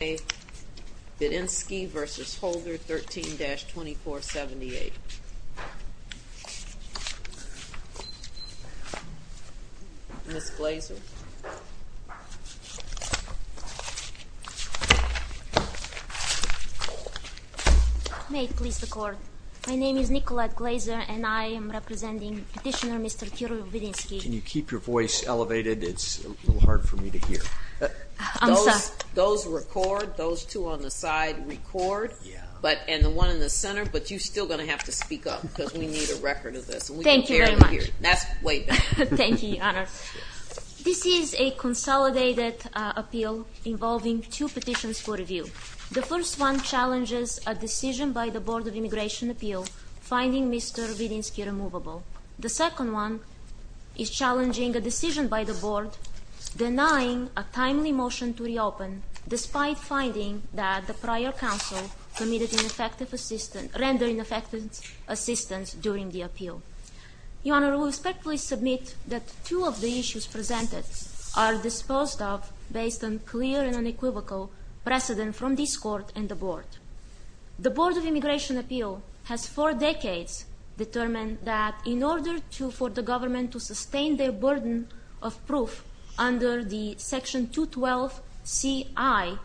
Vidinski v. Holder, 13-2478. Ms. Glazer. May it please the Court, my name is Nicolette Glazer and I am representing Petitioner Mr. Kiril Vidinski. Can you keep your voice elevated? It's a little hard for me to hear. I'm sorry. Those two on the side record and the one in the center, but you're still going to have to speak up because we need a record of this. Thank you very much. That's way better. Thank you, Your Honor. This is a consolidated appeal involving two petitions for review. The first one challenges a decision by the Board of Immigration Appeal finding Mr. Vidinski removable. The second one is challenging a decision by the Board denying a timely motion to reopen, despite finding that the prior counsel committed ineffective assistance, rendered ineffective assistance during the appeal. Your Honor, we respectfully submit that two of the issues presented are disposed of based on clear and unequivocal precedent from this Court and the Board. The Board of Immigration Appeal has for decades determined that in order for the government to sustain their burden of proof under the Section 212C-I,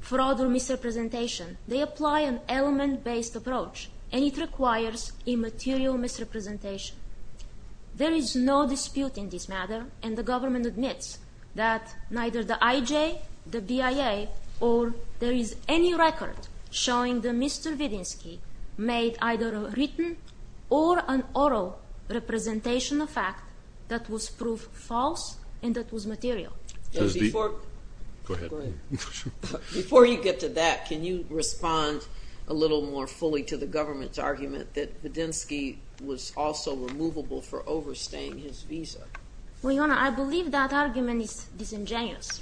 fraud or misrepresentation, they apply an element-based approach and it requires immaterial misrepresentation. There is no dispute in this matter and the government admits that neither the IJ, the BIA, or there is any record showing that Mr. Vidinski made either a written or an oral representation of fact that was proof false and that was material. Before you get to that, can you respond a little more fully to the government's argument that Vidinski was also removable for overstaying his visa? Well, Your Honor, I believe that argument is disingenuous.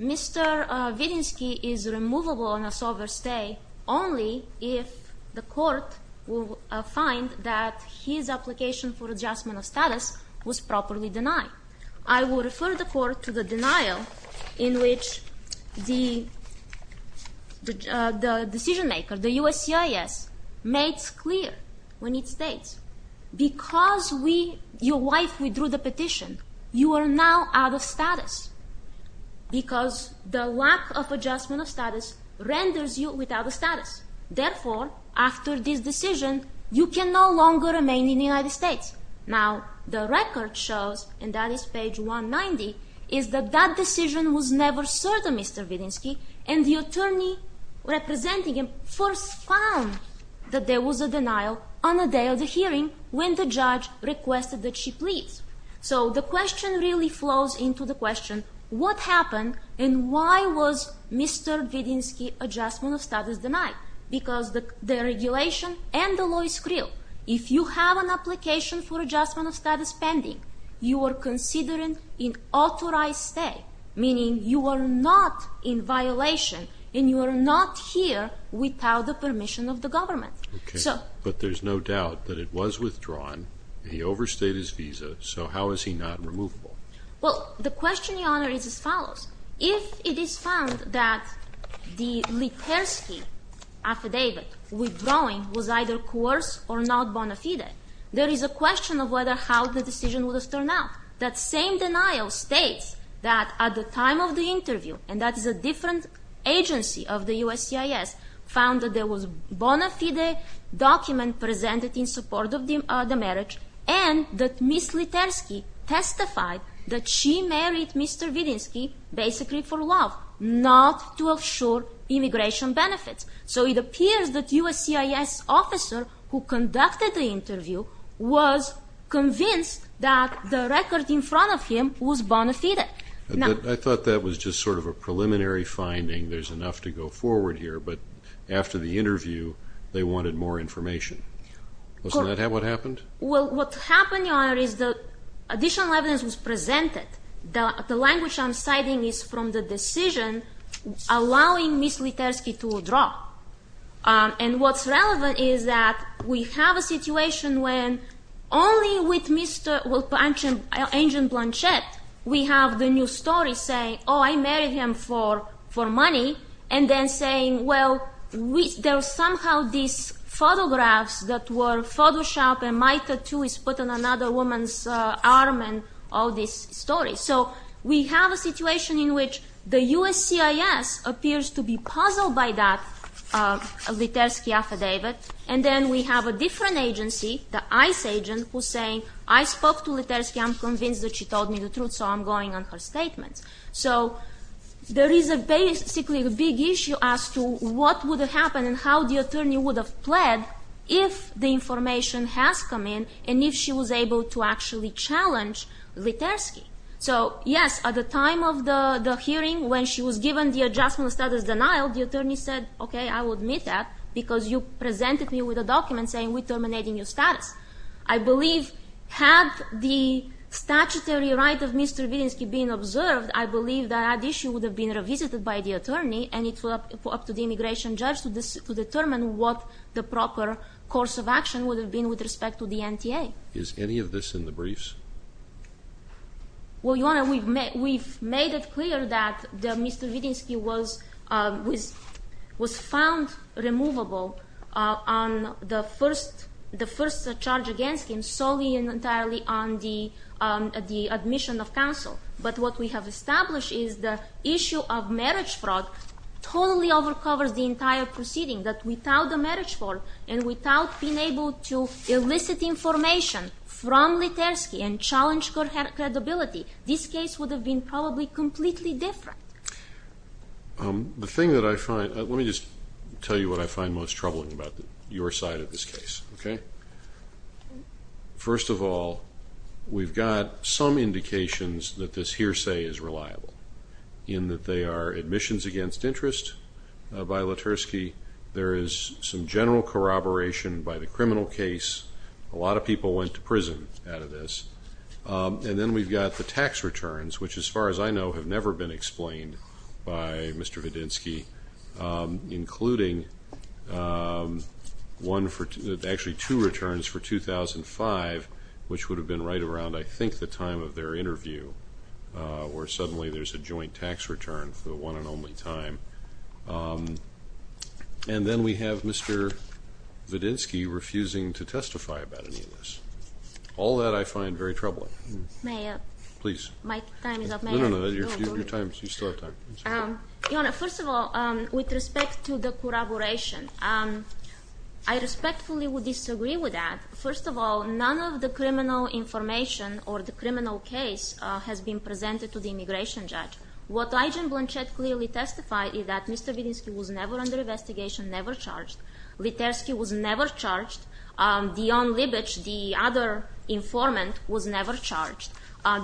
Mr. Vidinski is removable on a sober stay only if the court will find that his application for adjustment of status was properly denied. I will refer the Court to the denial in which the decision-maker, the USCIS, made clear when it states, because your wife withdrew the petition, you are now out of status because the lack of adjustment of status renders you without a status. Therefore, after this decision, you can no longer remain in the United States. Now, the record shows, and that is page 190, is that that decision was never certain, Mr. Vidinski, and the attorney representing him first found that there was a denial on the day of the hearing when the judge requested that she pleads. So the question really flows into the question, what happened and why was Mr. Vidinski's adjustment of status denied? Because the regulation and the law is clear. If you have an application for adjustment of status pending, you are considering an authorized stay, meaning you are not in violation and you are not here without the permission of the government. But there's no doubt that it was withdrawn, he overstayed his visa, so how is he not removable? Well, the question, Your Honor, is as follows. If it is found that the Litersky affidavit withdrawing was either coerced or not bona fide, there is a question of how the decision would have turned out. That same denial states that at the time of the interview, and that is a different agency of the USCIS, found that there was a bona fide document presented in support of the marriage and that Ms. Litersky testified that she married Mr. Vidinski basically for love, not to assure immigration benefits. So it appears that the USCIS officer who conducted the interview was convinced that the record in front of him was bona fide. I thought that was just sort of a preliminary finding. There's enough to go forward here, but after the interview, they wanted more information. Wasn't that what happened? Well, what happened, Your Honor, is that additional evidence was presented. The language I'm citing is from the decision allowing Ms. Litersky to withdraw. And what's relevant is that we have a situation when only with Mr. Blanchett, we have the new story saying, oh, I married him for money, and then saying, well, there's somehow these photographs that were Photoshopped and my tattoo is put on another woman's arm and all this story. So we have a situation in which the USCIS appears to be puzzled by that Litersky affidavit. And then we have a different agency, the ICE agent, who's saying, I spoke to Litersky. I'm convinced that she told me the truth, so I'm going on her statements. So there is basically a big issue as to what would have happened and how the attorney would have pled if the information has come in and if she was able to actually challenge Litersky. So, yes, at the time of the hearing, when she was given the adjustment of status denial, the attorney said, okay, I will admit that because you presented me with a document saying we're terminating your status. I believe had the statutory right of Mr. Wittinsky been observed, I believe that issue would have been revisited by the attorney and it's up to the immigration judge to determine what the proper course of action would have been with respect to the NTA. Is any of this in the briefs? Well, Your Honor, we've made it clear that Mr. Wittinsky was found removable on the first charge against him solely and entirely on the admission of counsel. But what we have established is the issue of marriage fraud totally overcovers the entire proceeding, that without the marriage fraud and without being able to elicit information from Litersky and challenge her credibility, this case would have been probably completely different. The thing that I find, let me just tell you what I find most troubling about your side of this case, okay? First of all, we've got some indications that this hearsay is reliable, in that they are admissions against interest by Litersky. There is some general corroboration by the criminal case. A lot of people went to prison out of this. And then we've got the tax returns, which, as far as I know, have never been explained by Mr. Wittinsky, including actually two returns for 2005, which would have been right around, I think, the time of their interview, where suddenly there's a joint tax return for the one and only time. And then we have Mr. Wittinsky refusing to testify about any of this. All that I find very troubling. May I? Please. My time is up. May I? No, no, no. Your time is up. You still have time. Your Honor, first of all, with respect to the corroboration, I respectfully would disagree with that. First of all, none of the criminal information or the criminal case has been presented to the immigration judge. What Agent Blanchett clearly testified is that Mr. Wittinsky was never under investigation, never charged. Litersky was never charged. Dion Libich, the other informant, was never charged.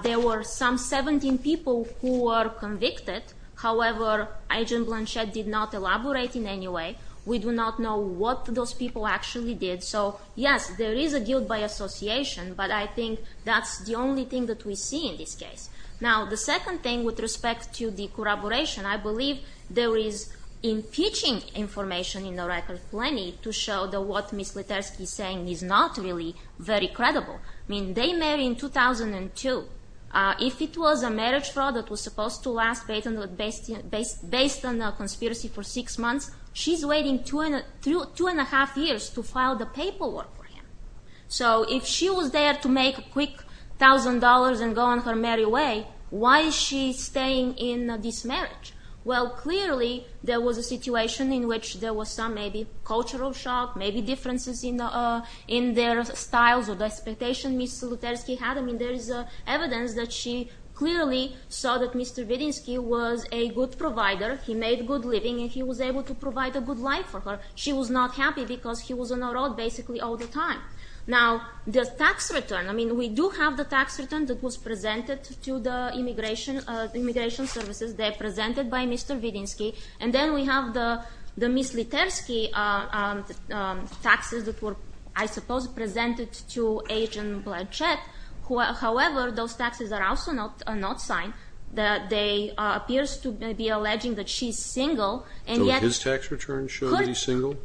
There were some 17 people who were convicted. However, Agent Blanchett did not elaborate in any way. We do not know what those people actually did. So, yes, there is a guilt by association, but I think that's the only thing that we see in this case. Now, the second thing with respect to the corroboration, I believe there is impeaching information in the record plenty to show that what Ms. Litersky is saying is not really very credible. I mean, they married in 2002. If it was a marriage fraud that was supposed to last based on a conspiracy for six months, she's waiting two and a half years to file the paperwork for him. So if she was there to make a quick $1,000 and go on her merry way, why is she staying in this marriage? Well, clearly there was a situation in which there was some maybe cultural shock, maybe differences in their styles or the expectation Ms. Litersky had. I mean, there is evidence that she clearly saw that Mr. Wittinsky was a good provider. He made good living and he was able to provide a good life for her. She was not happy because he was on the road basically all the time. Now, the tax return. I mean, we do have the tax return that was presented to the immigration services. They are presented by Mr. Wittinsky. And then we have the Ms. Litersky taxes that were, I suppose, presented to Agent Blanchett. However, those taxes are also not signed. They appear to be alleging that she's single. So his tax return showed that he's single?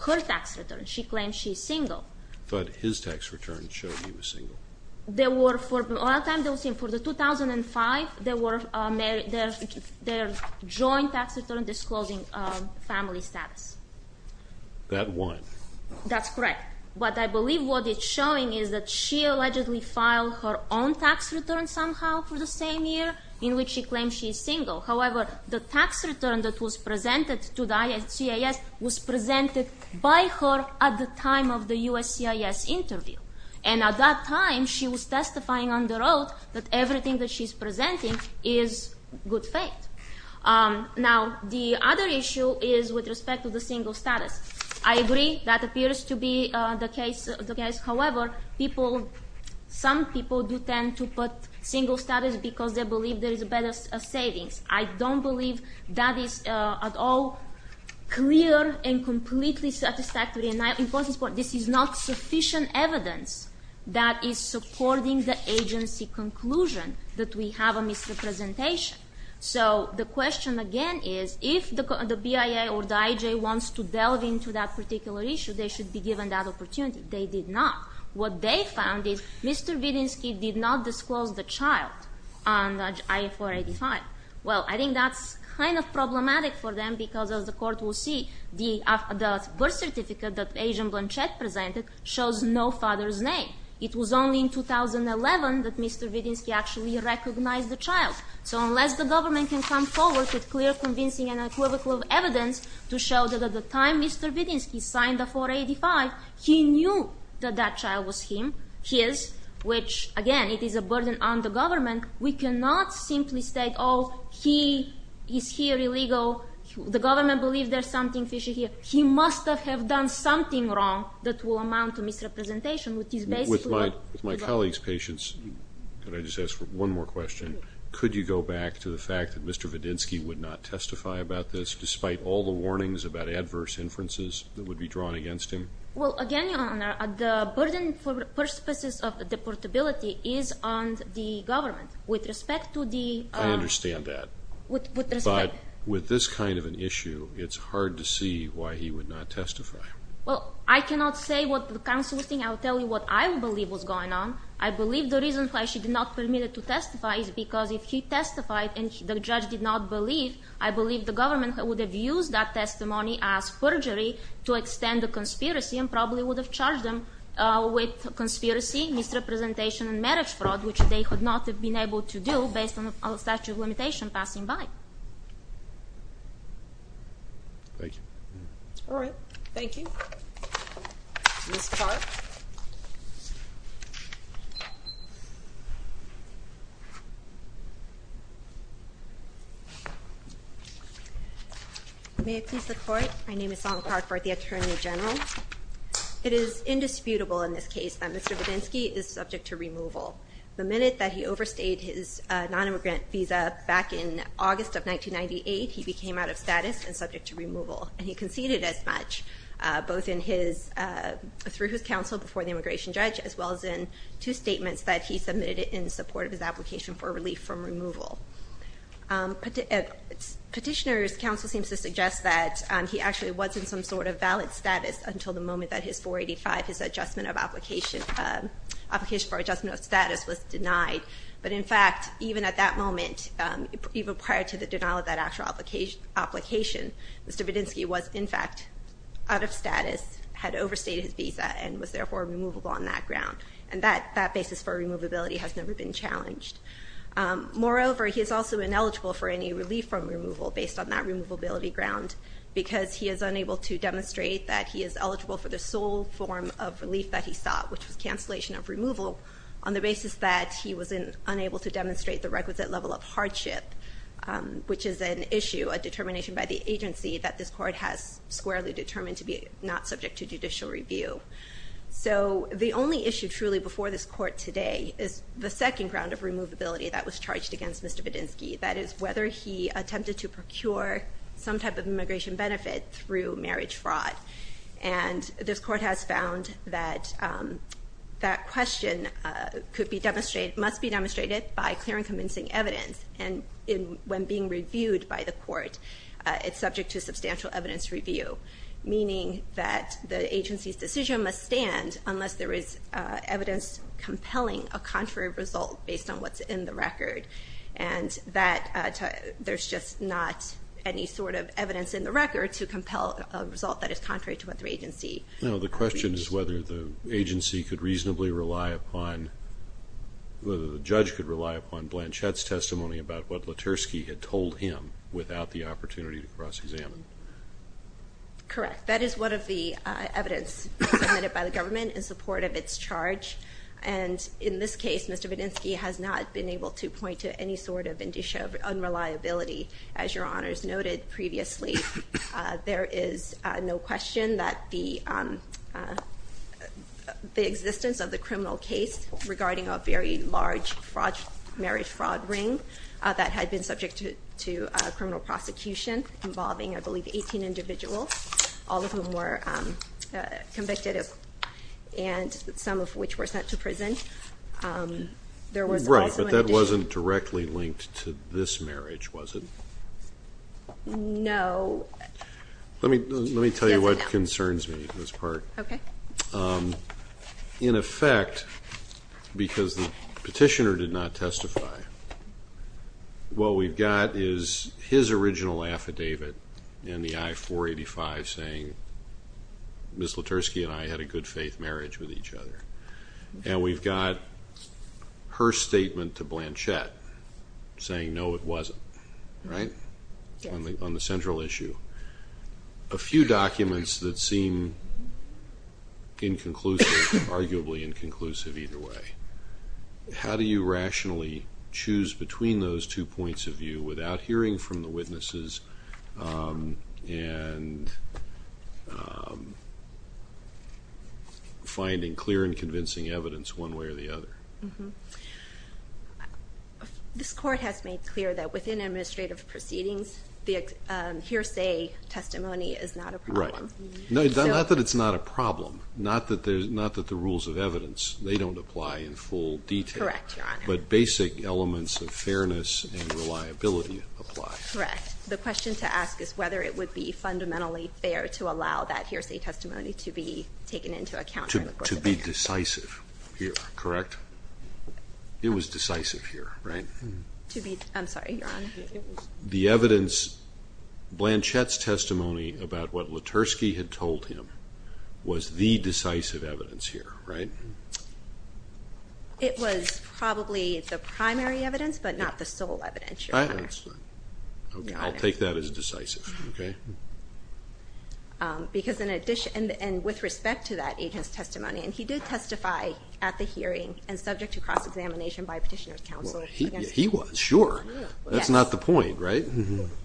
Her tax return. She claims she's single. But his tax return showed he was single. There were, for a long time, they were saying for the 2005, there were their joint tax return disclosing family status. That one. That's correct. But I believe what it's showing is that she allegedly filed her own tax return somehow for the same year in which she claims she's single. However, the tax return that was presented to the USCIS was presented by her at the time of the USCIS interview. And at that time, she was testifying on the road that everything that she's presenting is good faith. Now, the other issue is with respect to the single status. I agree that appears to be the case. However, some people do tend to put single status because they believe there is better savings. I don't believe that is at all clear and completely satisfactory. This is not sufficient evidence that is supporting the agency conclusion that we have a misrepresentation. So the question, again, is if the BIA or the IJ wants to delve into that particular issue, they should be given that opportunity. They did not. What they found is Mr. Vidinsky did not disclose the child on the IA485. Well, I think that's kind of problematic for them because, as the court will see, the birth certificate that Agent Blanchett presented shows no father's name. It was only in 2011 that Mr. Vidinsky actually recognized the child. So unless the government can come forward with clear, convincing, and equivocal evidence to show that at the time Mr. Vidinsky signed the 485, he knew that that child was his, which, again, it is a burden on the government. We cannot simply state, oh, he is here illegal, the government believes there is something fishy here. He must have done something wrong that will amount to misrepresentation, which is basically what the government does. With my colleague's patience, can I just ask one more question? Could you go back to the fact that Mr. Vidinsky would not testify about this despite all the warnings about adverse inferences that would be drawn against him? Well, again, Your Honor, the burden for purposes of deportability is on the government. With respect to the- I understand that. With respect- But with this kind of an issue, it's hard to see why he would not testify. Well, I cannot say what the counsel was saying. I will tell you what I believe was going on. I believe the reason why she did not permit him to testify is because if he testified and the judge did not believe, I believe the government would have used that testimony as perjury to extend the conspiracy and probably would have charged them with conspiracy, misrepresentation, and marriage fraud, which they could not have been able to do based on the statute of limitations passing by. Thank you. All right. Thank you. Ms. Clark. Thank you. May it please the Court? My name is Salma Clark for the Attorney General. It is indisputable in this case that Mr. Vidinsky is subject to removal. The minute that he overstayed his nonimmigrant visa back in August of 1998, he became out of status and subject to removal, and he conceded as much, both through his counsel before the immigration judge as well as in two statements that he submitted in support of his application for relief from removal. Petitioner's counsel seems to suggest that he actually was in some sort of valid status until the moment that his 485, his application for adjustment of status, was denied. But in fact, even at that moment, even prior to the denial of that actual application, Mr. Vidinsky was in fact out of status, had overstayed his visa, and was therefore removable on that ground. And that basis for removability has never been challenged. Moreover, he is also ineligible for any relief from removal based on that removability ground because he is unable to demonstrate that he is eligible for the sole form of relief that he sought, which was cancellation of removal, on the basis that he was unable to demonstrate the requisite level of hardship, which is an issue, a determination by the agency that this court has squarely determined to be not subject to judicial review. So the only issue truly before this court today is the second ground of removability that was charged against Mr. Vidinsky, that is whether he attempted to procure some type of immigration benefit through marriage fraud. And this court has found that that question must be demonstrated by clear and convincing evidence, and when being reviewed by the court, it's subject to substantial evidence review, meaning that the agency's decision must stand unless there is evidence compelling a contrary result based on what's in the record, and that there's just not any sort of evidence in the record to compel a result that is contrary to what the agency believes. No, the question is whether the agency could reasonably rely upon, whether the judge could rely upon Blanchett's testimony about what Letersky had told him without the opportunity to cross-examine. Correct. That is one of the evidence submitted by the government in support of its charge, and in this case, Mr. Vidinsky has not been able to point to any sort of indicia of unreliability. As Your Honors noted previously, there is no question that the existence of the criminal case regarding a very large marriage fraud ring that had been subject to criminal prosecution involving, I believe, 18 individuals, all of whom were convicted, and some of which were sent to prison. Right, but that wasn't directly linked to this marriage, was it? No. Let me tell you what concerns me in this part. Okay. In effect, because the petitioner did not testify, what we've got is his original affidavit in the I-485 saying, Ms. Letersky and I had a good faith marriage with each other, and we've got her statement to Blanchett saying, no, it wasn't. Right. On the central issue. A few documents that seem inconclusive, arguably inconclusive either way. How do you rationally choose between those two points of view without hearing from the witnesses and finding clear and convincing evidence one way or the other? This Court has made clear that within administrative proceedings the hearsay testimony is not a problem. Right. Not that it's not a problem, not that the rules of evidence, they don't apply in full detail. Correct, Your Honor. But basic elements of fairness and reliability apply. Correct. The question to ask is whether it would be fundamentally fair to allow that hearsay testimony to be taken into account. To be decisive here, correct? I'm sorry, Your Honor. The evidence, Blanchett's testimony about what Letersky had told him was the decisive evidence here, right? It was probably the primary evidence, but not the sole evidence, Your Honor. I'll take that as decisive, okay? Because in addition, and with respect to that agent's testimony, and he did testify at the hearing and subject to cross-examination by Petitioner's Counsel. He was, sure. That's not the point, right?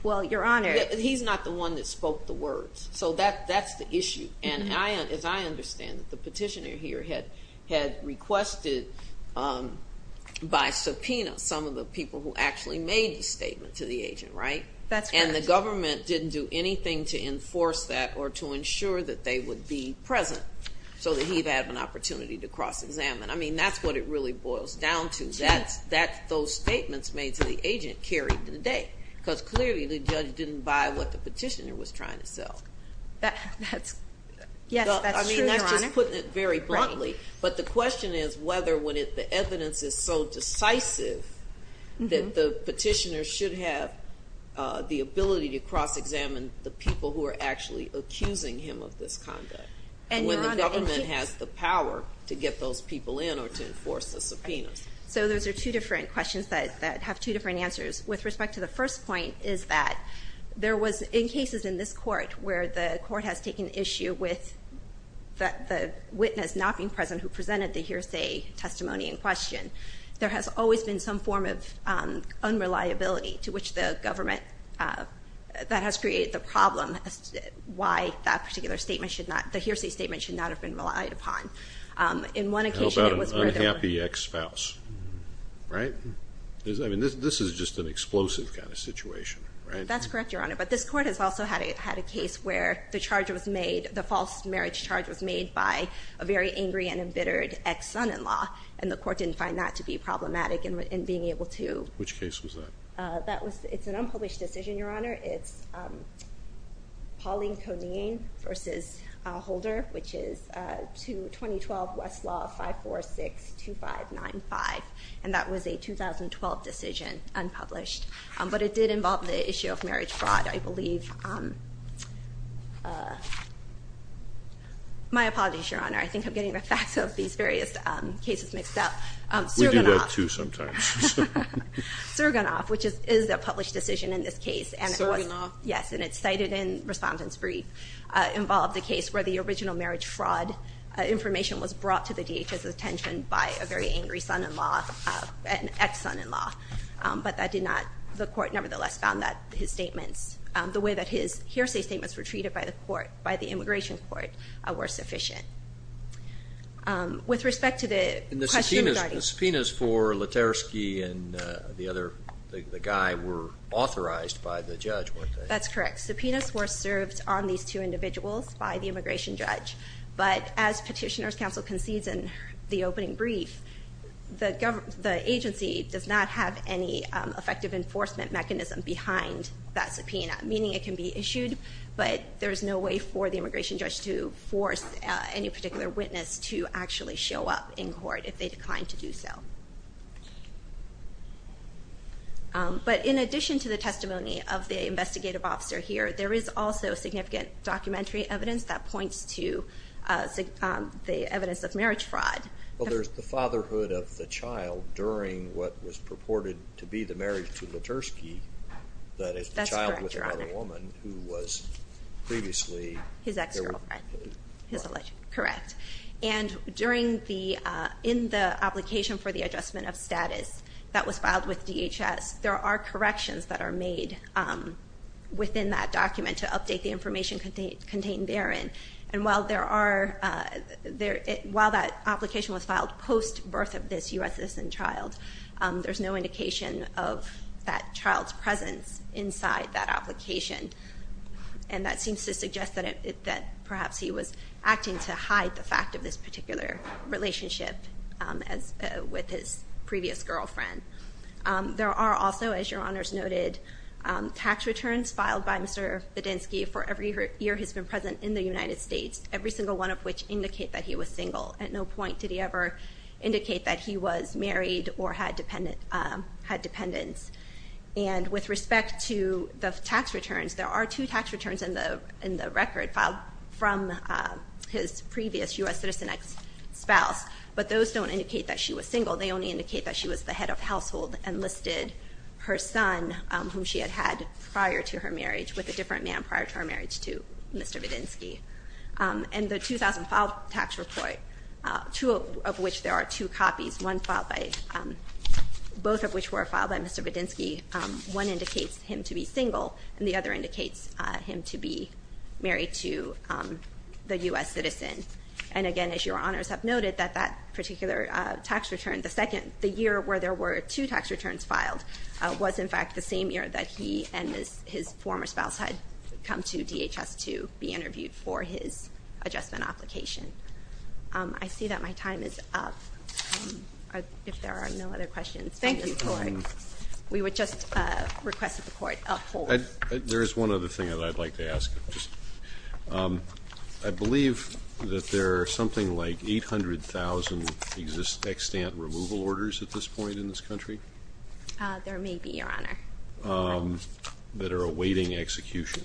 Well, Your Honor, he's not the one that spoke the words, so that's the issue. And as I understand it, the Petitioner here had requested by subpoena some of the people who actually made the statement to the agent, right? That's correct. And the government didn't do anything to enforce that or to ensure that they would be present so that he'd have an opportunity to cross-examine. I mean, that's what it really boils down to. Those statements made to the agent carried the day, because clearly the judge didn't buy what the Petitioner was trying to sell. Yes, that's true, Your Honor. I mean, that's just putting it very bluntly. But the question is whether, when the evidence is so decisive, that the Petitioner should have the ability to cross-examine the people who are actually accusing him of this conduct, when the government has the power to get those people in or to enforce the subpoenas. So those are two different questions that have two different answers. With respect to the first point is that there was, in cases in this court where the court has taken issue with the witness not being present who presented the hearsay testimony in question, there has always been some form of unreliability to which the government, that has created the problem as to why that particular statement should not, the hearsay statement should not have been relied upon. How about an unhappy ex-spouse, right? I mean, this is just an explosive kind of situation, right? That's correct, Your Honor, but this court has also had a case where the charge was made, the false marriage charge was made by a very angry and embittered ex-son-in-law, and the court didn't find that to be problematic in being able to... Which case was that? It's an unpublished decision, Your Honor. It's Pauline Coney versus Holder, which is 2012 Westlaw 5462595, and that was a 2012 decision, unpublished. But it did involve the issue of marriage fraud, I believe. My apologies, Your Honor. I think I'm getting the facts of these various cases mixed up. We do that too sometimes. Surgunov, which is a published decision in this case. Surgunov? Yes, and it's cited in Respondent's Brief. It involved a case where the original marriage fraud information was brought to the DHS' attention by a very angry son-in-law, an ex-son-in-law, but that did not, the court nevertheless found that his statements, the way that his hearsay statements were treated by the immigration court were sufficient. With respect to the question regarding... The guy were authorized by the judge, weren't they? That's correct. Subpoenas were served on these two individuals by the immigration judge, but as Petitioner's Counsel concedes in the opening brief, the agency does not have any effective enforcement mechanism behind that subpoena, meaning it can be issued, but there's no way for the immigration judge to force any particular witness to actually show up in court if they decline to do so. But in addition to the testimony of the investigative officer here, there is also significant documentary evidence that points to the evidence of marriage fraud. Well, there's the fatherhood of the child during what was purported to be the marriage to Lutersky, that is the child with another woman who was previously... His ex-girlfriend. Correct. And in the application for the adjustment of status that was filed with DHS, there are corrections that are made within that document to update the information contained therein, and while that application was filed post-birth of this U.S. citizen child, there's no indication of that child's presence inside that application, and that seems to suggest that perhaps he was acting to hide the fact of this particular relationship with his previous girlfriend. There are also, as Your Honors noted, tax returns filed by Mr. Bedinsky for every year he's been present in the United States, every single one of which indicate that he was single. At no point did he ever indicate that he was married or had dependents. And with respect to the tax returns, there are two tax returns in the record filed from his previous U.S. citizen ex-spouse, but those don't indicate that she was single. They only indicate that she was the head of household and listed her son, whom she had had prior to her marriage, with a different man prior to her marriage to Mr. Bedinsky. And the 2005 tax report, two of which there are two copies, both of which were filed by Mr. Bedinsky, one indicates him to be single and the other indicates him to be married to the U.S. citizen. And again, as Your Honors have noted, that that particular tax return, the year where there were two tax returns filed, was in fact the same year that he and his former spouse had come to DHS to be interviewed for his adjustment application. I see that my time is up, if there are no other questions. Thank you. We would just request that the Court uphold. There is one other thing that I'd like to ask. I believe that there are something like 800,000 extant removal orders at this point in this country? There may be, Your Honor. That are awaiting execution.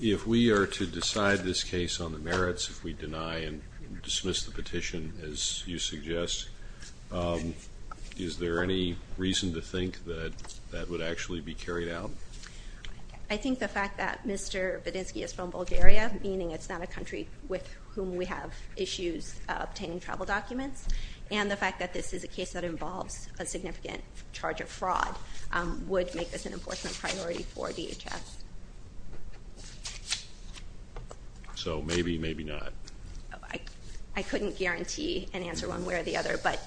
If we are to decide this case on the merits, if we deny and dismiss the petition, as you suggest, is there any reason to think that that would actually be carried out? I think the fact that Mr. Bedinsky is from Bulgaria, meaning it's not a country with whom we have issues obtaining travel documents, and the fact that this is a case that involves a significant charge of fraud, would make this an enforcement priority for DHS. So maybe, maybe not? I couldn't guarantee and answer one way or the other, but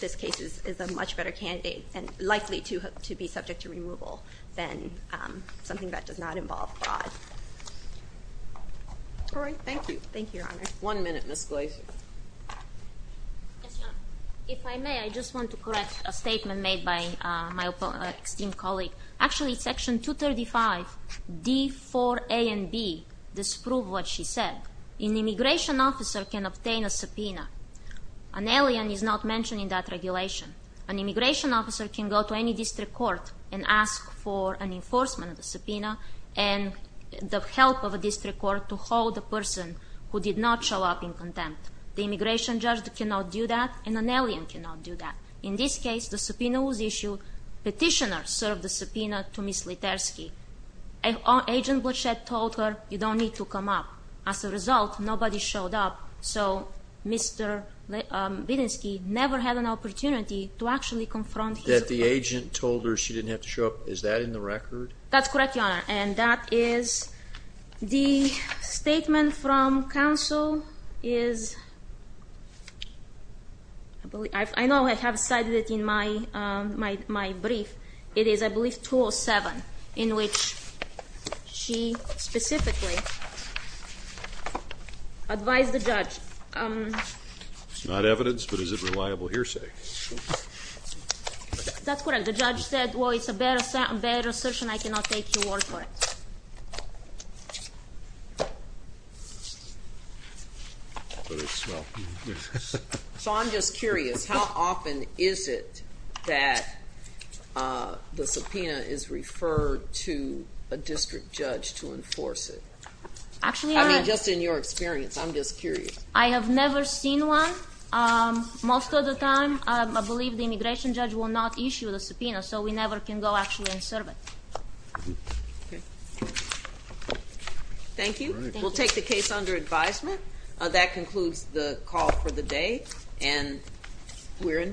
this case is a much better candidate and likely to be subject to removal than something that does not involve fraud. All right, thank you. Thank you, Your Honor. One minute, Ms. Glazer. Yes, Your Honor. If I may, I just want to correct a statement made by my esteemed colleague. Actually, Section 235, D, 4A, and B disprove what she said. An immigration officer can obtain a subpoena. An alien is not mentioned in that regulation. An immigration officer can go to any district court and ask for an enforcement of the subpoena and the help of a district court to hold the person who did not show up in contempt. The immigration judge cannot do that, and an alien cannot do that. In this case, the subpoena was issued. Petitioner served the subpoena to Ms. Letersky. Agent Blachett told her, you don't need to come up. As a result, nobody showed up, so Mr. Bedinsky never had an opportunity to actually confront his opponent. That the agent told her she didn't have to show up, is that in the record? That's correct, Your Honor, and that is the statement from counsel is, I know I have cited it in my brief. It is, I believe, 207, in which she specifically advised the judge. It's not evidence, but is it reliable hearsay? That's correct. The judge said, well, it's a bad assertion, I cannot take your word for it. So I'm just curious, how often is it that the subpoena is referred to a district judge to enforce it? I mean, just in your experience. I'm just curious. I have never seen one. Most of the time, I believe the immigration judge will not issue the subpoena, so we never can go actually and serve it. Thank you. We'll take the case under advisement. That concludes the call for the day, and we're in recess.